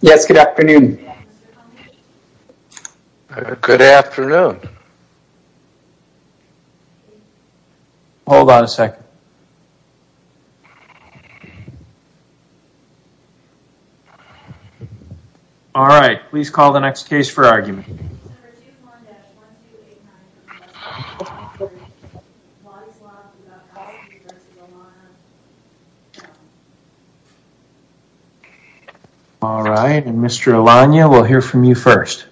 Yes, good afternoon. Good afternoon. Hold on a second. All right. Please call the next case for argument. All right, and Mr. Alanya, we'll hear from you first.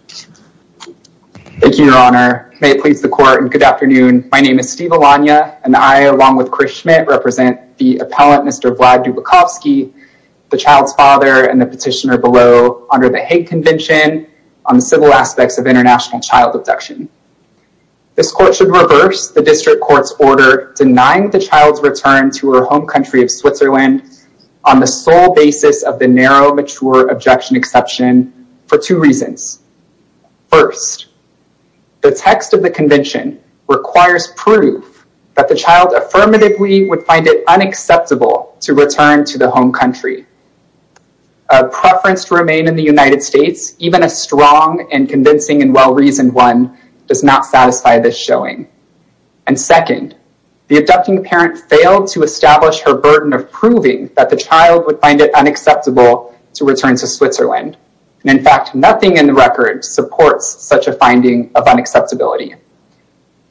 Thank you, your honor. May it please the court and good afternoon, my name is Steve Alanya and I along with Chris Schmidt represent the appellant Mr. Vlad Dubikovskyy, the child's father and the petitioner below under the Hague Convention on the Civil Aspects of International Child Abduction. This court should reverse the district court's order denying the child's return to her home country of Switzerland on the sole basis of the narrow mature objection exception for two reasons. First, the text of the convention requires proof that the child affirmatively would find it unacceptable to return to the home country. A preference to remain in the United States, even a strong and convincing and well-reasoned one does not satisfy this showing. And second, the adopting parent failed to establish her burden of proving that the child would find it unacceptable to return to Switzerland and in fact, nothing in the record supports such a finding of unacceptability.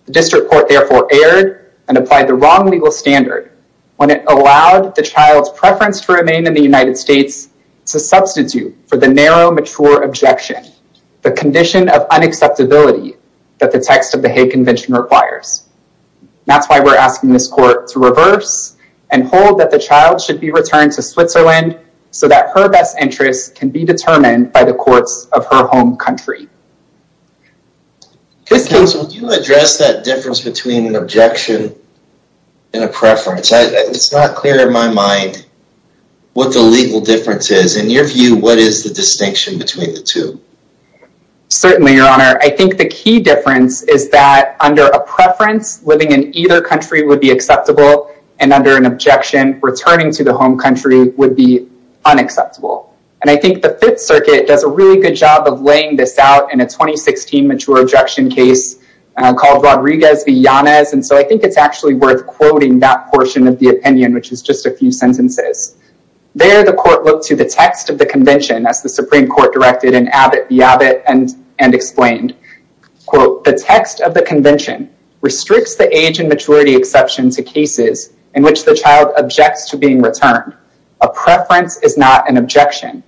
The district court therefore erred and applied the wrong legal standard when it allowed the child's preference to remain in the United States to substitute for the narrow mature objection, the condition of unacceptability that the text of the Hague Convention requires. That's why we're asking this court to reverse and hold that the child should be returned to Switzerland so that her best interests can be determined by the courts of her home country. Counsel, would you address that difference between an objection and a preference? It's not clear in my mind what the legal difference is. In your view, what is the distinction between the two? Certainly, your honor. I think the key difference is that under a preference, living in either country would be acceptable, and under an objection, returning to the home country would be unacceptable. And I think the Fifth Circuit does a really good job of laying this out in a 2016 mature objection case called Rodriguez v. Yanez, and so I think it's actually worth quoting that portion of the opinion, which is just a few sentences. There, the court looked to the text of the convention as the Supreme Court directed in Abbott v. Abbott and explained, quote, the text of the convention restricts the age and generation to cases in which the child objects to being returned. A preference is not an objection.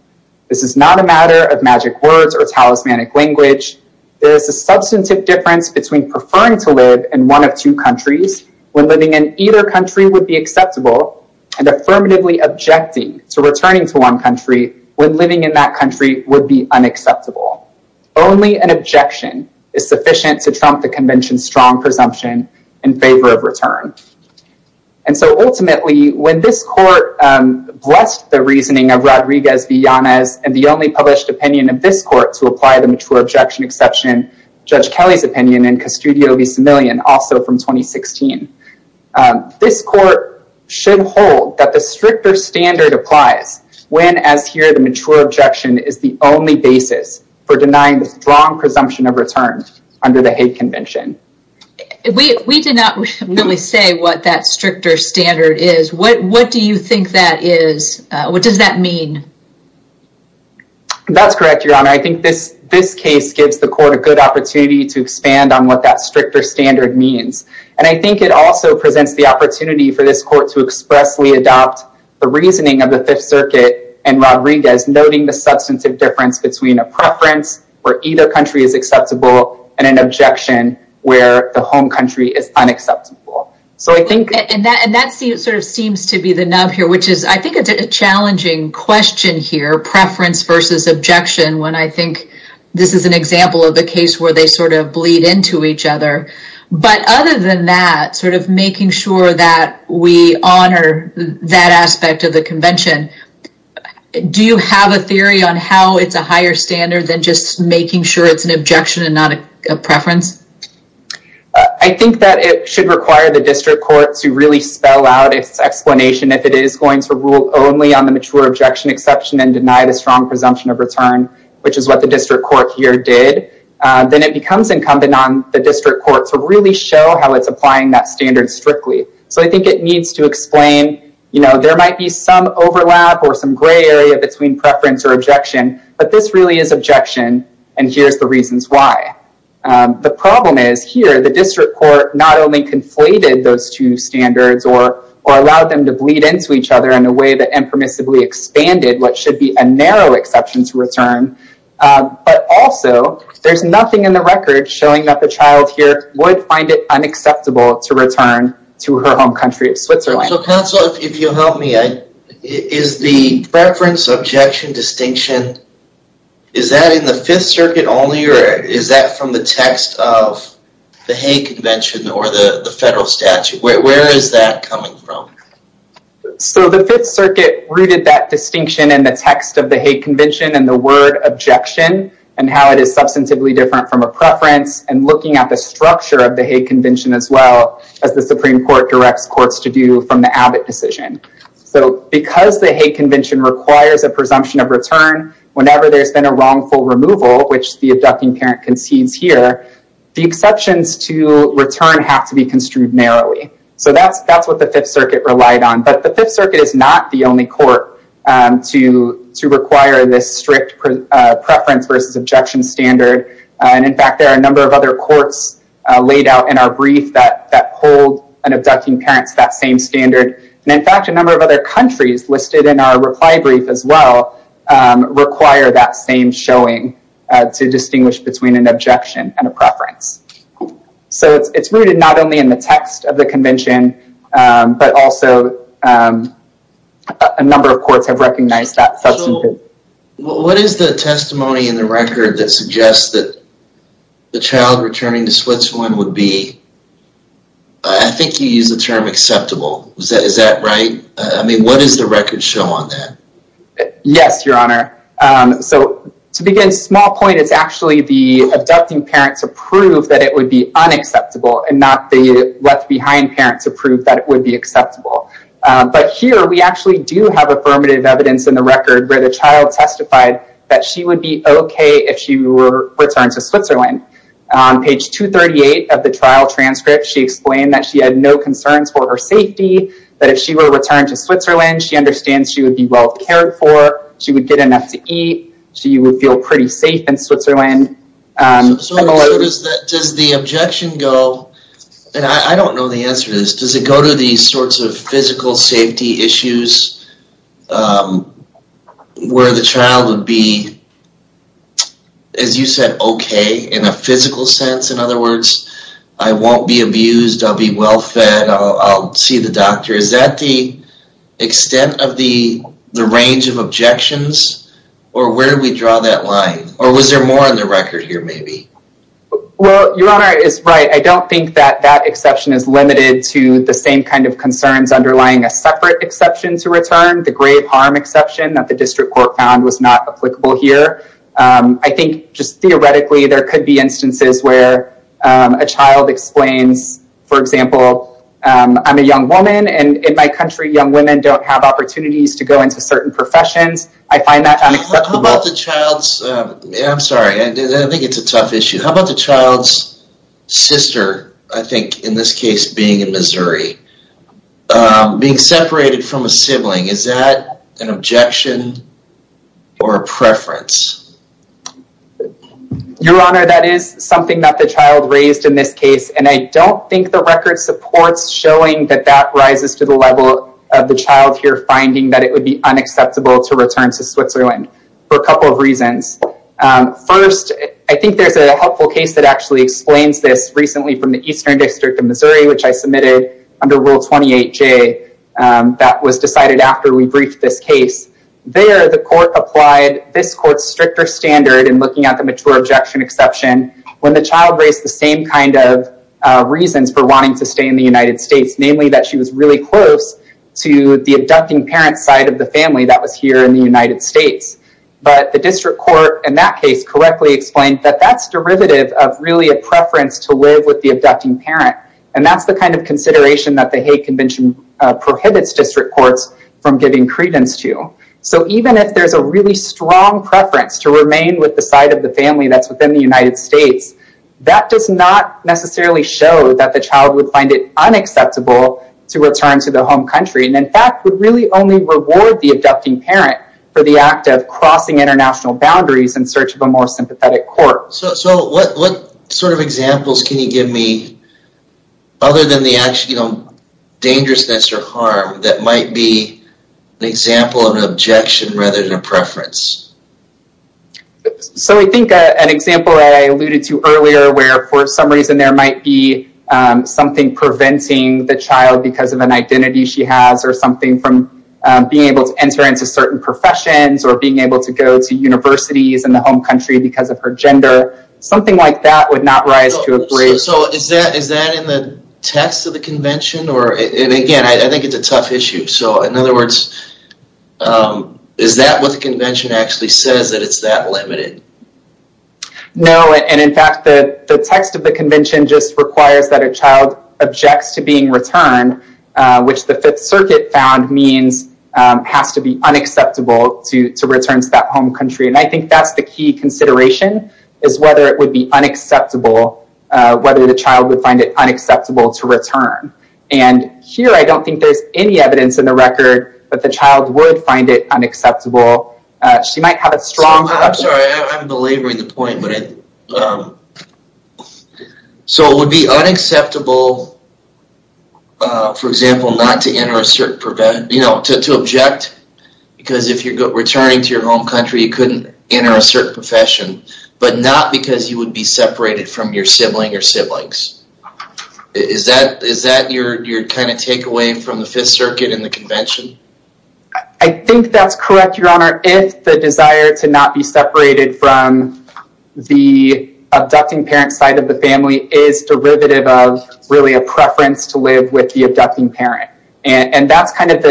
This is not a matter of magic words or talismanic language. There is a substantive difference between preferring to live in one of two countries when living in either country would be acceptable, and affirmatively objecting to returning to one country when living in that country would be unacceptable. Only an objection is sufficient to trump the convention's strong presumption in favor of return. And so ultimately, when this court blessed the reasoning of Rodriguez v. Yanez and the only published opinion of this court to apply the mature objection exception, Judge Kelly's opinion in Custodio v. Simillion, also from 2016, this court should hold that the stricter standard applies when, as here, the mature objection is the only basis for denying the strong presumption of return under the hate convention. We did not really say what that stricter standard is. What do you think that is? What does that mean? That's correct, Your Honor. I think this case gives the court a good opportunity to expand on what that stricter standard means. And I think it also presents the opportunity for this court to expressly adopt the reasoning of the Fifth Circuit and Rodriguez, noting the substantive difference between a preference where either country is acceptable and an objection where the home country is unacceptable. So I think... And that sort of seems to be the nub here, which is, I think it's a challenging question here, preference versus objection, when I think this is an example of the case where they sort of bleed into each other. But other than that, sort of making sure that we honor that aspect of the convention, do you have a theory on how it's a higher standard than just making sure it's an objection and not a preference? I think that it should require the district court to really spell out its explanation if it is going to rule only on the mature objection exception and deny the strong presumption of return, which is what the district court here did, then it becomes incumbent on the district court to really show how it's applying that standard strictly. So I think it needs to explain, you know, there might be some overlap or some gray area between preference or objection, but this really is objection, and here's the reasons why. The problem is, here, the district court not only conflated those two standards or allowed them to bleed into each other in a way that impermissibly expanded what should be a narrow exception to return, but also there's nothing in the record showing that the child here would find it unacceptable to return to her home country of Switzerland. Counsel, if you'll help me, is the preference, objection, distinction, is that in the Fifth Circuit only or is that from the text of the Hague Convention or the federal statute? Where is that coming from? So the Fifth Circuit rooted that distinction in the text of the Hague Convention and the word objection and how it is substantively different from a preference and looking at the structure of the Hague Convention as well as the Supreme Court directs courts to do from the Abbott decision. So because the Hague Convention requires a presumption of return whenever there's been a wrongful removal, which the abducting parent concedes here, the exceptions to return have to be construed narrowly. So that's what the Fifth Circuit relied on, but the Fifth Circuit is not the only court to require this strict preference versus objection standard, and in fact, there are a number of other courts laid out in our brief that hold an abducting parent's that same standard, and in fact, a number of other countries listed in our reply brief as well require that same showing to distinguish between an objection and a preference. So it's rooted not only in the text of the convention, but also a number of courts have recognized that substantive... So what is the testimony in the record that suggests that the child returning to Switzerland would be... I think you used the term acceptable. Is that right? I mean, what does the record show on that? Yes, Your Honor. So to begin small point, it's actually the abducting parents approved that it would be unacceptable and not the left behind parents approved that it would be acceptable. But here we actually do have affirmative evidence in the record where the child testified that she would be okay if she were returned to Switzerland. On page 238 of the trial transcript, she explained that she had no concerns for her safety, that if she were returned to Switzerland, she understands she would be well cared for, she would get enough to eat, she would feel pretty safe in Switzerland, and a lot of... So does the objection go, and I don't know the answer to this, does it go to these sorts of physical safety issues where the child would be, as you said, okay in a physical sense? In other words, I won't be abused, I'll be well fed, I'll see the doctor. Is that the extent of the range of objections or where do we draw that line? Or was there more in the record here maybe? Well, Your Honor is right. I don't think that that exception is limited to the same kind of concerns underlying a separate exception to return, the grave harm exception that the district court found was not applicable here. I think just theoretically there could be instances where a child explains, for example, I'm a young woman and in my country young women don't have opportunities to go into certain professions. I find that unacceptable. How about the child's... I'm sorry, I think it's a tough issue. How about the child's sister, I think in this case being in Missouri, being separated from a sibling. Is that an objection or a preference? Your Honor, that is something that the child raised in this case and I don't think the record supports showing that that rises to the level of the child here finding that it would be unacceptable to return to Switzerland for a couple of reasons. First, I think there's a helpful case that actually explains this recently from the Eastern District of Missouri, which I submitted under Rule 28J that was decided after we briefed this case. There, the court applied this court's stricter standard in looking at the mature objection exception when the child raised the same kind of reasons for wanting to stay in the United States, namely that she was really close to the abducting parent side of the family that was here in the United States. The district court in that case correctly explained that that's derivative of really a preference to live with the abducting parent. That's the kind of consideration that the Hague Convention prohibits district courts from giving credence to. Even if there's a really strong preference to remain with the side of the family that's within the United States, that does not necessarily show that the child would find it unacceptable to return to the home country and in fact would really only reward the abducting parent for the act of crossing international boundaries in search of a more sympathetic court. So what sort of examples can you give me other than the actual dangerousness or harm that might be an example of an objection rather than a preference? So I think an example that I alluded to earlier where for some reason there might be something preventing the child because of an identity she has or something from being able to enter into certain professions or being able to go to universities in the home country because of her gender. Something like that would not rise to a grade. So is that in the text of the convention or, and again, I think it's a tough issue. So in other words, is that what the convention actually says that it's that limited? No, and in fact the text of the convention just requires that a child objects to being returned, which the fifth circuit found means has to be unacceptable to return to that home country. And I think that's the key consideration is whether it would be unacceptable, whether the child would find it unacceptable to return. And here I don't think there's any evidence in the record that the child would find it unacceptable. She might have a strong- I'm sorry, I'm belaboring the point. So it would be unacceptable, for example, not to enter a certain, you know, to object because if you're returning to your home country, you couldn't enter a certain profession, but not because you would be separated from your sibling or siblings. Is that your kind of takeaway from the fifth circuit and the convention? I think that's correct, Your Honor, if the desire to not be separated from the abducting parent side of the family is derivative of really a preference to live with the abducting parent. And that's kind of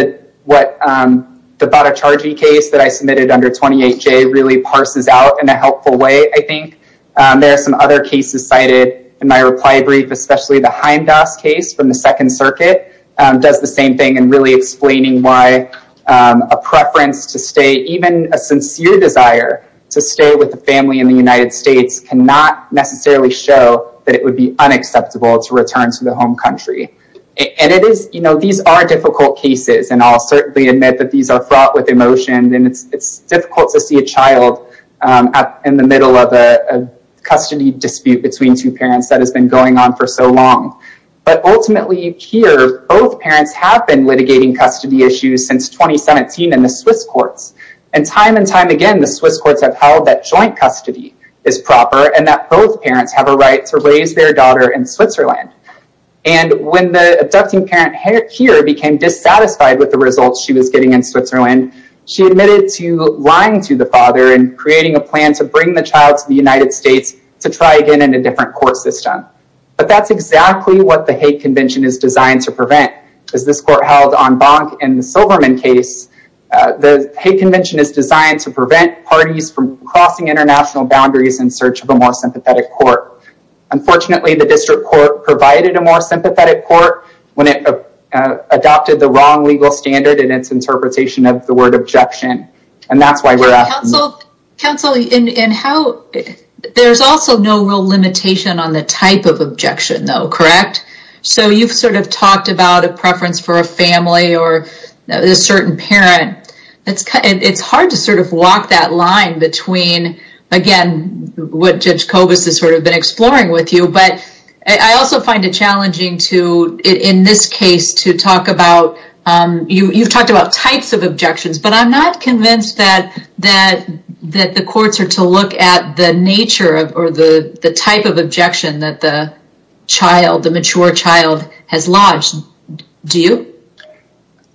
what the Bada Charjee case that I submitted under 28J really parses out in a helpful way, I think. There are some other cases cited in my reply brief, especially the Heimdall's case from the second circuit does the same thing in really explaining why a preference to stay, even a sincere desire to stay with a family in the United States cannot necessarily show that it would be unacceptable to return to the home country. And it is, you know, these are difficult cases, and I'll certainly admit that these are fraught with emotion, and it's difficult to see a child in the middle of a custody dispute between two parents that has been going on for so long. But ultimately, here, both parents have been litigating custody issues since 2017 in the Swiss courts. And time and time again, the Swiss courts have held that joint custody is proper and that both parents have a right to raise their daughter in Switzerland. And when the abducting parent here became dissatisfied with the results she was getting in Switzerland, she admitted to lying to the father and creating a plan to bring the child to the United States to try again in a different court system. But that's exactly what the hate convention is designed to prevent. As this court held on Bonk in the Silverman case, the hate convention is designed to prevent parties from crossing international boundaries in search of a more sympathetic court. Unfortunately, the district court provided a more sympathetic court when it adopted the wrong legal standard in its interpretation of the word objection. And that's why we're asking... Counsel, there's also no real limitation on the type of objection though, correct? So you've sort of talked about a preference for a family or a certain parent. It's hard to sort of walk that line between, again, what Judge Kobus has sort of been exploring with you. But I also find it challenging to, in this case, to talk about... But I'm not convinced that the courts are to look at the nature or the type of objection that the child, the mature child, has lodged. Do you?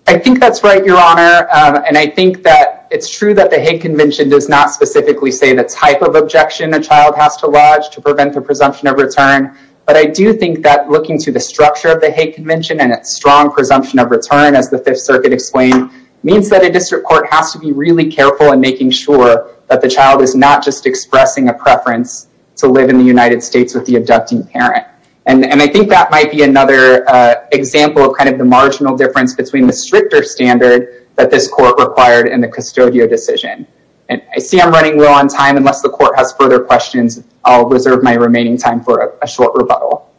I think that's right, Your Honor. And I think that it's true that the hate convention does not specifically say the type of objection a child has to lodge to prevent the presumption of return. But I do think that looking to the structure of the hate convention and its strong presumption of return, as the Fifth Circuit explained, means that a district court has to be really careful in making sure that the child is not just expressing a preference to live in the United States with the abducting parent. And I think that might be another example of kind of the marginal difference between the stricter standard that this court required in the custodial decision. And I see I'm running low on time. Unless the court has further questions, I'll reserve my remaining time for a short rebuttal.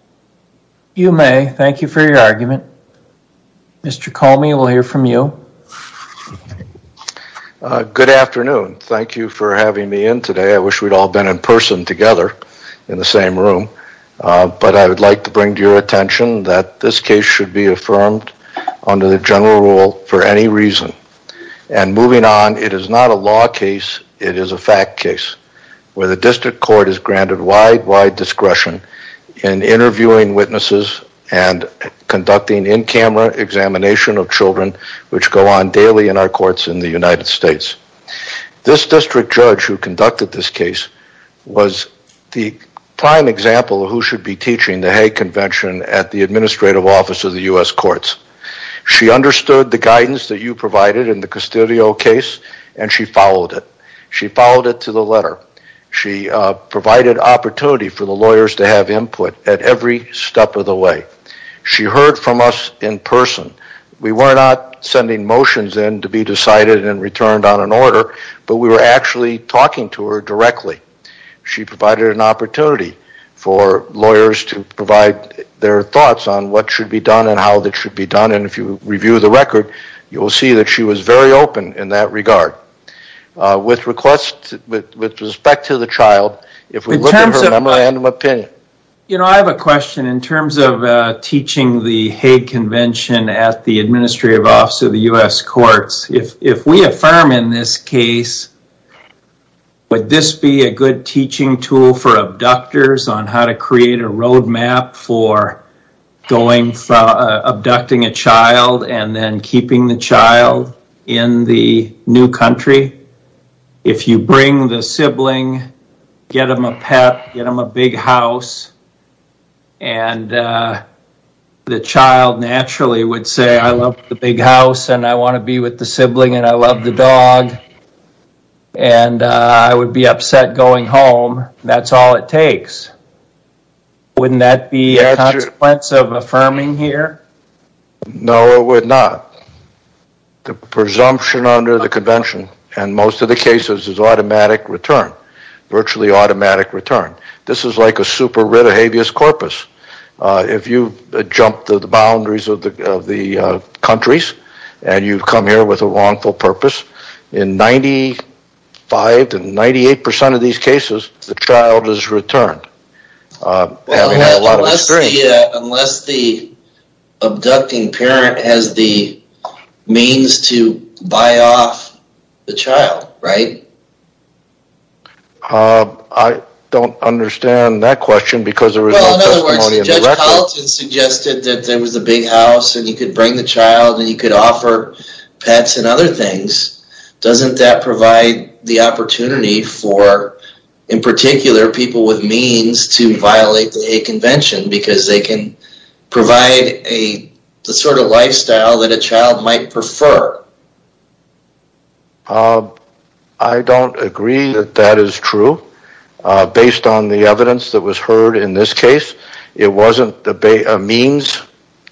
You may. Thank you for your argument. Mr. Comey, we'll hear from you. Good afternoon. Thank you for having me in today. I wish we'd all been in person together in the same room. But I would like to bring to your attention that this case should be affirmed under the general rule for any reason. And moving on, it is not a law case, it is a fact case, where the district court is granted wide, wide discretion in interviewing witnesses and conducting in-camera examination of children which go on daily in our courts in the United States. This district judge who conducted this case was the prime example of who should be teaching the Hague Convention at the Administrative Office of the U.S. Courts. She understood the guidance that you provided in the custodial case and she followed it. She followed it to the letter. She provided opportunity for the lawyers to have input at every step of the way. She heard from us in person. We were not sending motions in to be decided and returned on an order, but we were actually talking to her directly. She provided an opportunity for lawyers to provide their thoughts on what should be done and how that should be done. And if you review the record, you will see that she was very open in that regard. With respect to the child, if we look at her memorandum of opinion. You know, I have a question in terms of teaching the Hague Convention at the Administrative Office of the U.S. Courts. If we affirm in this case, would this be a good teaching tool for abductors on how to If you bring the sibling, get them a pet, get them a big house, and the child naturally would say, I love the big house and I want to be with the sibling and I love the dog and I would be upset going home. That's all it takes. Wouldn't that be a consequence of affirming here? No, it would not. The presumption under the Convention and most of the cases is automatic return. Virtually automatic return. This is like a super rite of habeas corpus. If you jump the boundaries of the countries and you come here with a wrongful purpose, in 95 to 98% of these cases, the child is returned. Well, unless the abducting parent has the means to buy off the child, right? I don't understand that question because there is no testimony in the record. Well, in other words, Judge Palatin suggested that there was a big house and you could bring the child and you could offer pets and other things. Doesn't that provide the opportunity for, in particular, people with means to violate the convention because they can provide the sort of lifestyle that a child might prefer? I don't agree that that is true based on the evidence that was heard in this case. It wasn't a means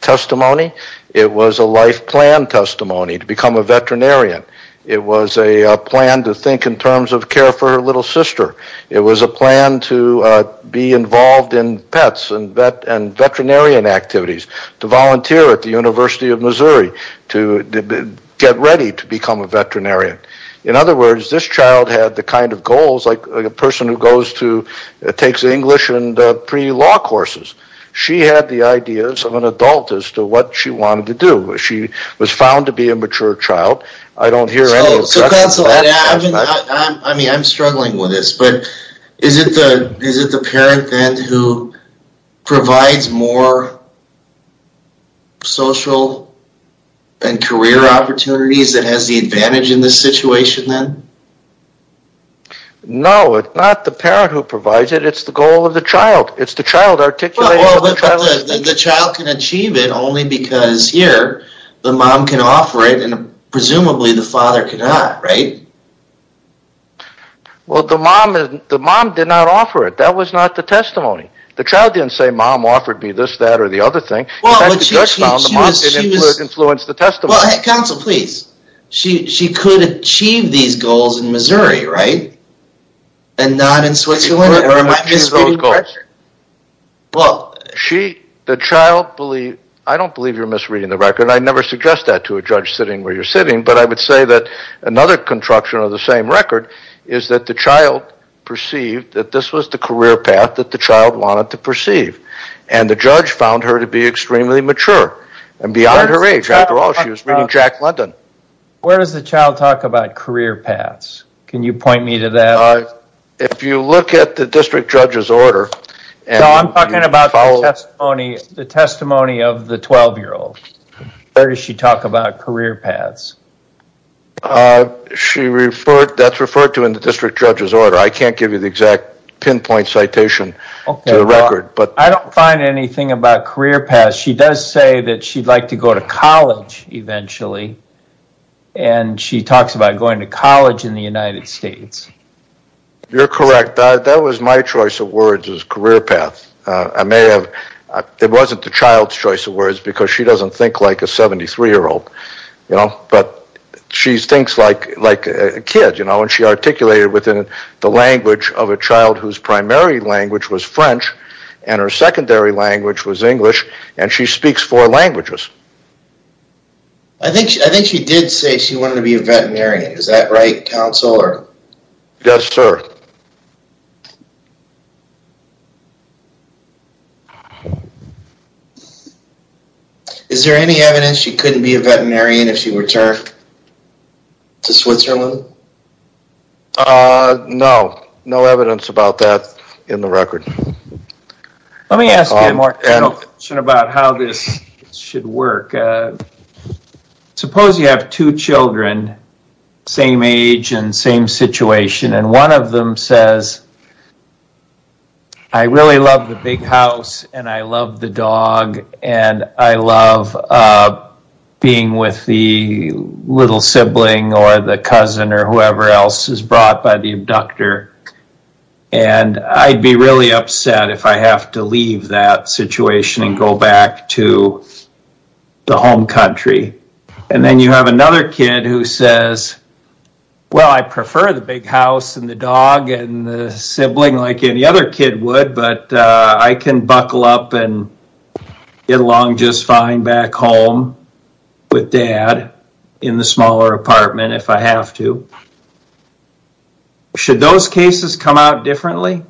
testimony. It was a life plan testimony to become a veterinarian. It was a plan to think in terms of care for her little sister. It was a plan to be involved in pets and veterinarian activities, to volunteer at the University of Missouri, to get ready to become a veterinarian. In other words, this child had the kind of goals like a person who goes to, takes English and pre-law courses. She had the ideas of an adult as to what she wanted to do. She was found to be a mature child. I don't hear any of that. So counsel, I'm struggling with this, but is it the parent then who provides more social and career opportunities that has the advantage in this situation then? No, it's not the parent who provides it. It's the goal of the child. It's the child articulating the goal of the child. But the child can achieve it only because here the mom can offer it and presumably the father cannot, right? Well, the mom did not offer it. That was not the testimony. The child didn't say mom offered me this, that, or the other thing. In fact, the judge found the mom didn't influence the testimony. Counsel, please. She could achieve these goals in Missouri, right? And not in Switzerland, or am I misreading the record? Well, she, the child, I don't believe you're misreading the record. I never suggest that to a judge sitting where you're sitting. But I would say that another construction of the same record is that the child perceived that this was the career path that the child wanted to perceive. And the judge found her to be extremely mature and beyond her age. After all, she was reading Jack London. Where does the child talk about career paths? Can you point me to that? If you look at the district judge's order and you follow... So I'm talking about the testimony of the 12-year-old. Where does she talk about career paths? She referred... That's referred to in the district judge's order. I can't give you the exact pinpoint citation to the record, but... I don't find anything about career paths. She does say that she'd like to go to college eventually. And she talks about going to college in the United States. You're correct. That was my choice of words, was career paths. I may have... It wasn't the child's choice of words because she doesn't think like a 73-year-old. But she thinks like a kid. And she articulated within the language of a child whose primary language was French and her secondary language was English. And she speaks four languages. I think she did say she wanted to be a veterinarian. Is that right, counsel? Yes, sir. Is there any evidence she couldn't be a veterinarian if she returned to Switzerland? No. No evidence about that in the record. Let me ask you a more general question about how this should work. Suppose you have two children, same age and same situation, and one of them says, I really love the big house and I love the dog and I love being with the little sibling or the cousin or whoever else is brought by the abductor. And I'd be really upset if I have to leave that situation and go back to the home country. And then you have another kid who says, well, I prefer the big house and the dog and the sibling like any other kid would, but I can buckle up and get along just fine back home with dad in the smaller apartment if I have to. Should those cases come out differently?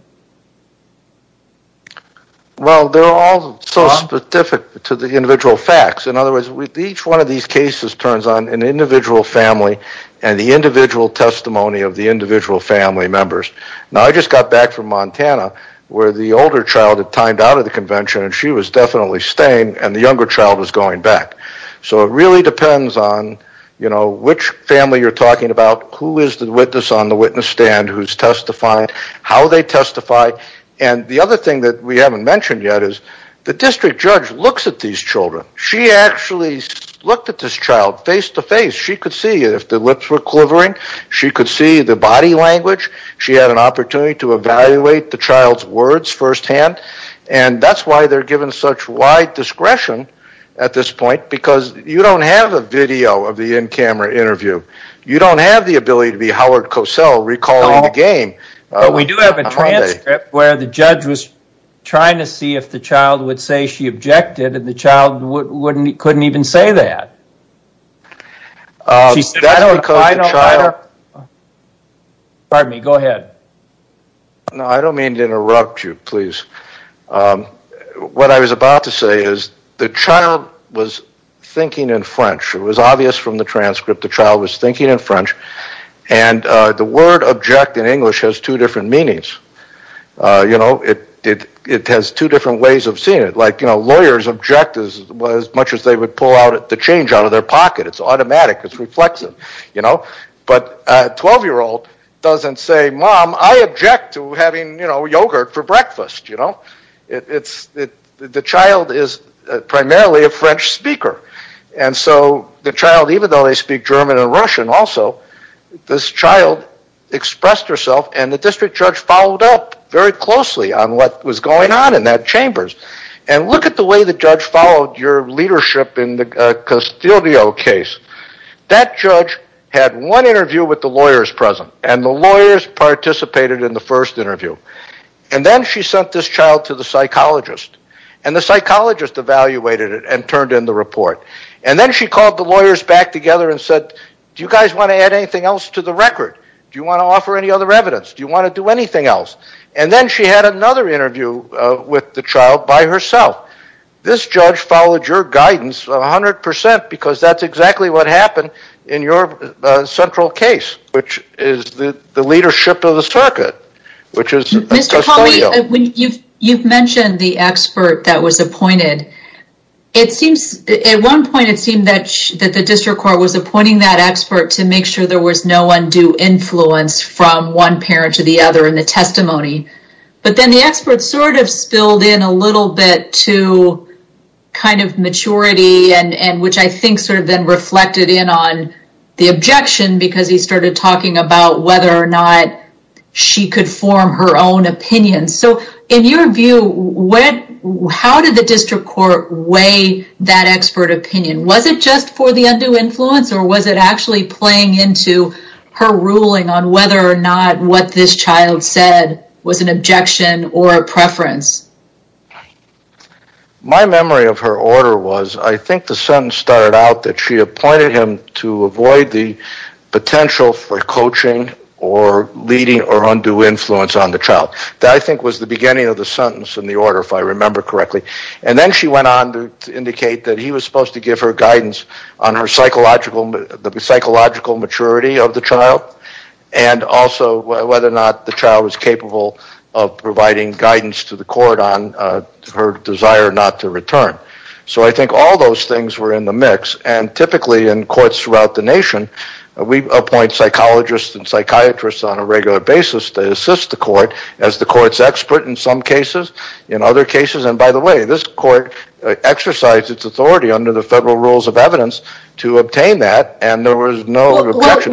Well, they're all so specific to the individual facts. In other words, each one of these cases turns on an individual family and the individual testimony of the individual family members. Now I just got back from Montana where the older child had timed out of the convention and she was definitely staying and the younger child was going back. So it really depends on which family you're talking about, who is the witness on the witness stand, who's testifying, how they testify. And the other thing that we haven't mentioned yet is the district judge looks at these children. She actually looked at this child face to face. She could see if the lips were quivering. She could see the body language. She had an opportunity to evaluate the child's words firsthand and that's why they're given such wide discretion at this point because you don't have a video of the in-camera interview. You don't have the ability to be Howard Cosell recalling the game. But we do have a transcript where the judge was trying to see if the child would say she objected and the child couldn't even say that. She said, I don't... That's because the child... Pardon me, go ahead. No, I don't mean to interrupt you, please. What I was about to say is the child was thinking in French. It was obvious from the transcript the child was thinking in French and the word object in English has two different meanings. It has two different ways of seeing it. Lawyers object as much as they would pull the change out of their pocket. It's automatic, it's reflexive. But a 12-year-old doesn't say, Mom, I object to having yogurt for breakfast. It's... The child is primarily a French speaker. And so the child, even though they speak German and Russian also, this child expressed herself and the district judge followed up very closely on what was going on in that chamber. And look at the way the judge followed your leadership in the Castillo case. That judge had one interview with the lawyers present and the lawyers participated in the first interview. And then she sent this child to the psychologist and the psychologist evaluated it and turned in the report. And then she called the lawyers back together and said, Do you guys want to add anything else to the record? Do you want to offer any other evidence? Do you want to do anything else? And then she had another interview with the child by herself. This judge followed your guidance 100% because that's exactly what happened in your central case, which is the leadership of the circuit, which is Castillo. You've mentioned the expert that was appointed. At one point it seemed that the district court was appointing that expert to make sure there was no undue influence from one parent to the other in the testimony. But then the expert sort of spilled in a little bit to kind of maturity and which I think sort of then reflected in the objection because he started talking about whether or not she could form her own opinion. So in your view, how did the district court weigh that expert opinion? Was it just for the undue influence or was it actually playing into her ruling on whether or not what this child said was an objection or a preference? My memory of her order was I think the sentence started out that she appointed him to avoid the potential for coaching or leading or undue influence on the child. That I think was the beginning of the sentence in the order, if I remember correctly. And then she went on to indicate that he was supposed to give her guidance on the psychological maturity of the child and also whether or not the child was capable of providing guidance to the court on her desire not to return. So I think all those things were in the mix and typically in courts throughout the nation, we appoint psychologists and psychiatrists on a regular basis to assist the court as the court's expert in some cases and other cases. And by the way, this court exercised its authority under the federal rules of evidence to obtain that and there was no objection.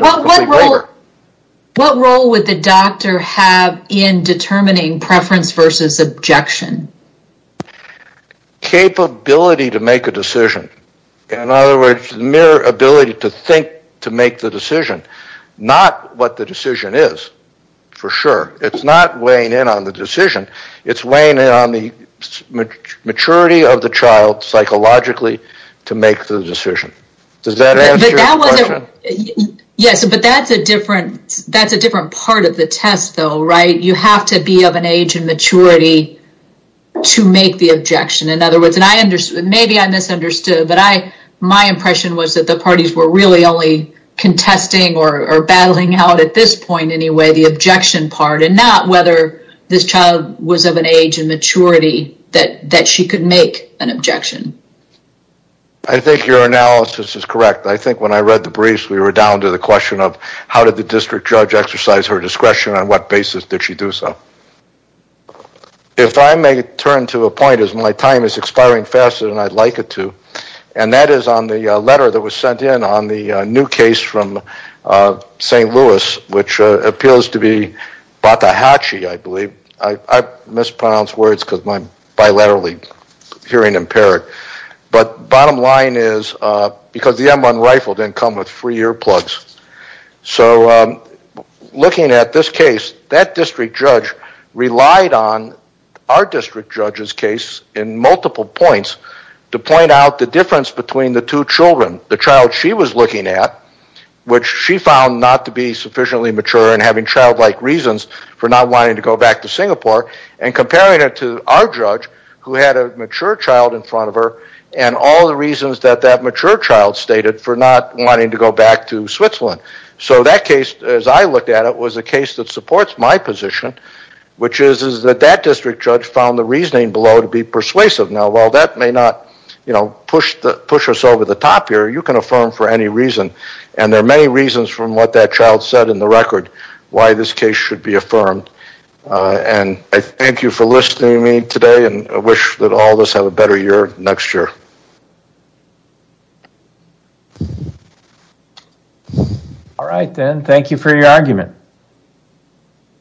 What role would the doctor have in determining preference versus objection? Capability to make a decision. In other words, the mere ability to think to make the decision. Not what the decision is, for sure. It's not weighing in on the decision. It's weighing in on the maturity of the child psychologically to make the decision. Does that answer your question? Yes, but that's a different part of the test though, right? You have to be of an age and maturity to make the objection. In other words, and maybe I misunderstood, but my impression was that the parties were really only contesting or battling out at this point the objection part and not whether this child was of an age and maturity that she could make an objection. I think your analysis is correct. I think when I read the briefs, we were down to the question of how did the district judge exercise her discretion and on what basis did she do so? If I may turn to a point, as my time is expiring faster than I'd like it to, and that is on the letter that was sent in on the new case from St. Louis, which appeals to be Batahatchee, I believe. I mispronounce words because I'm bilaterally hearing impaired. Bottom line is because the M1 rifle didn't come with free earplugs. Looking at this case, that district judge relied on our district judge's case in multiple points to point out the difference between the two children, the child she was looking at, which she found not to be sufficiently mature and having childlike reasons for not wanting to go back to Singapore, and comparing it to our judge who had a mature child in front of her and all the reasons that that mature child stated for not wanting to go back to Switzerland. That case, as I looked at it, was a case that supports my position which is that that district judge found the reasoning below to be persuasive. While that may not push us over the top here, you can affirm for any reason and there are many reasons from what that child said in the record why this case should be affirmed. I thank you for listening to me today and I wish that all of us have a better year next year. Alright then, thank you for your argument.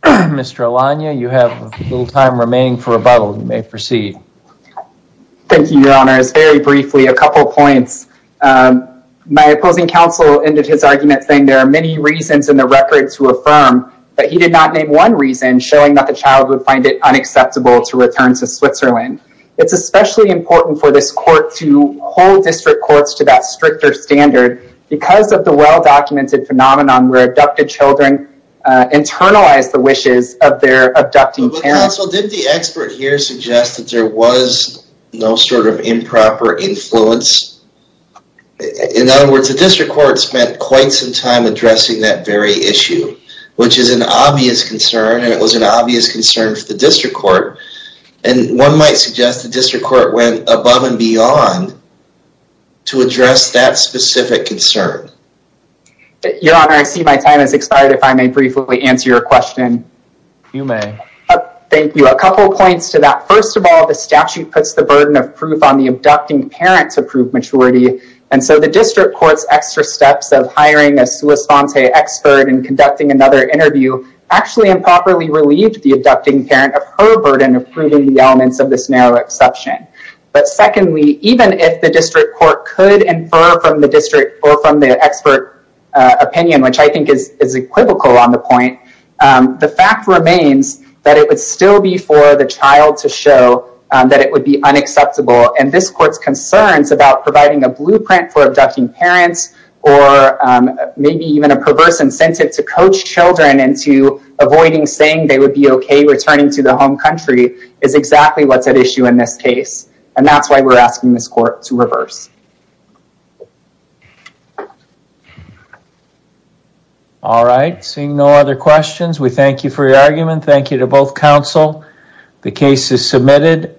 Mr. Alanya, you have a little time remaining for rebuttal. You may proceed. Thank you, Your Honor. Very briefly, a couple of points. My opposing counsel ended his argument saying there are many reasons in the record to affirm but he did not name one reason showing that the child would find it unacceptable to return to Switzerland. It's especially important for this court to hold district courts to that stricter standard because of the well-documented phenomenon where abducted children internalize the wishes of their abducting parents. Counsel, did the expert here suggest that there was no sort of improper influence? In other words, the district court spent quite some time addressing that very issue which is an obvious concern and it was an obvious concern for the district court and one might suggest the district court went above and beyond to address that specific concern. Your Honor, I see my time has expired if I may briefly answer your question. You may. Thank you. A couple of points to that. First of all, the statute puts the burden of proof on the abducting parent to prove maturity and so the district court's extra steps of hiring a sua sponte expert and conducting another interview actually improperly relieved the abducting parent of her burden of proving the elements of this narrow exception. Secondly, even if the district court could infer from the expert opinion, which I think is equivocal on the point, the fact remains that it would still be for the child to show that it would be unacceptable and this court's concerns about providing a blueprint for abducting parents or maybe even a perverse incentive to coach children into avoiding saying they would be okay returning to the home country is exactly what's at issue in this case and that's why we're asking this court to reverse. All right. Seeing no other questions we thank you for your argument. Thank you to both counsel. The case is submitted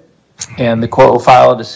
and the court will file a decision.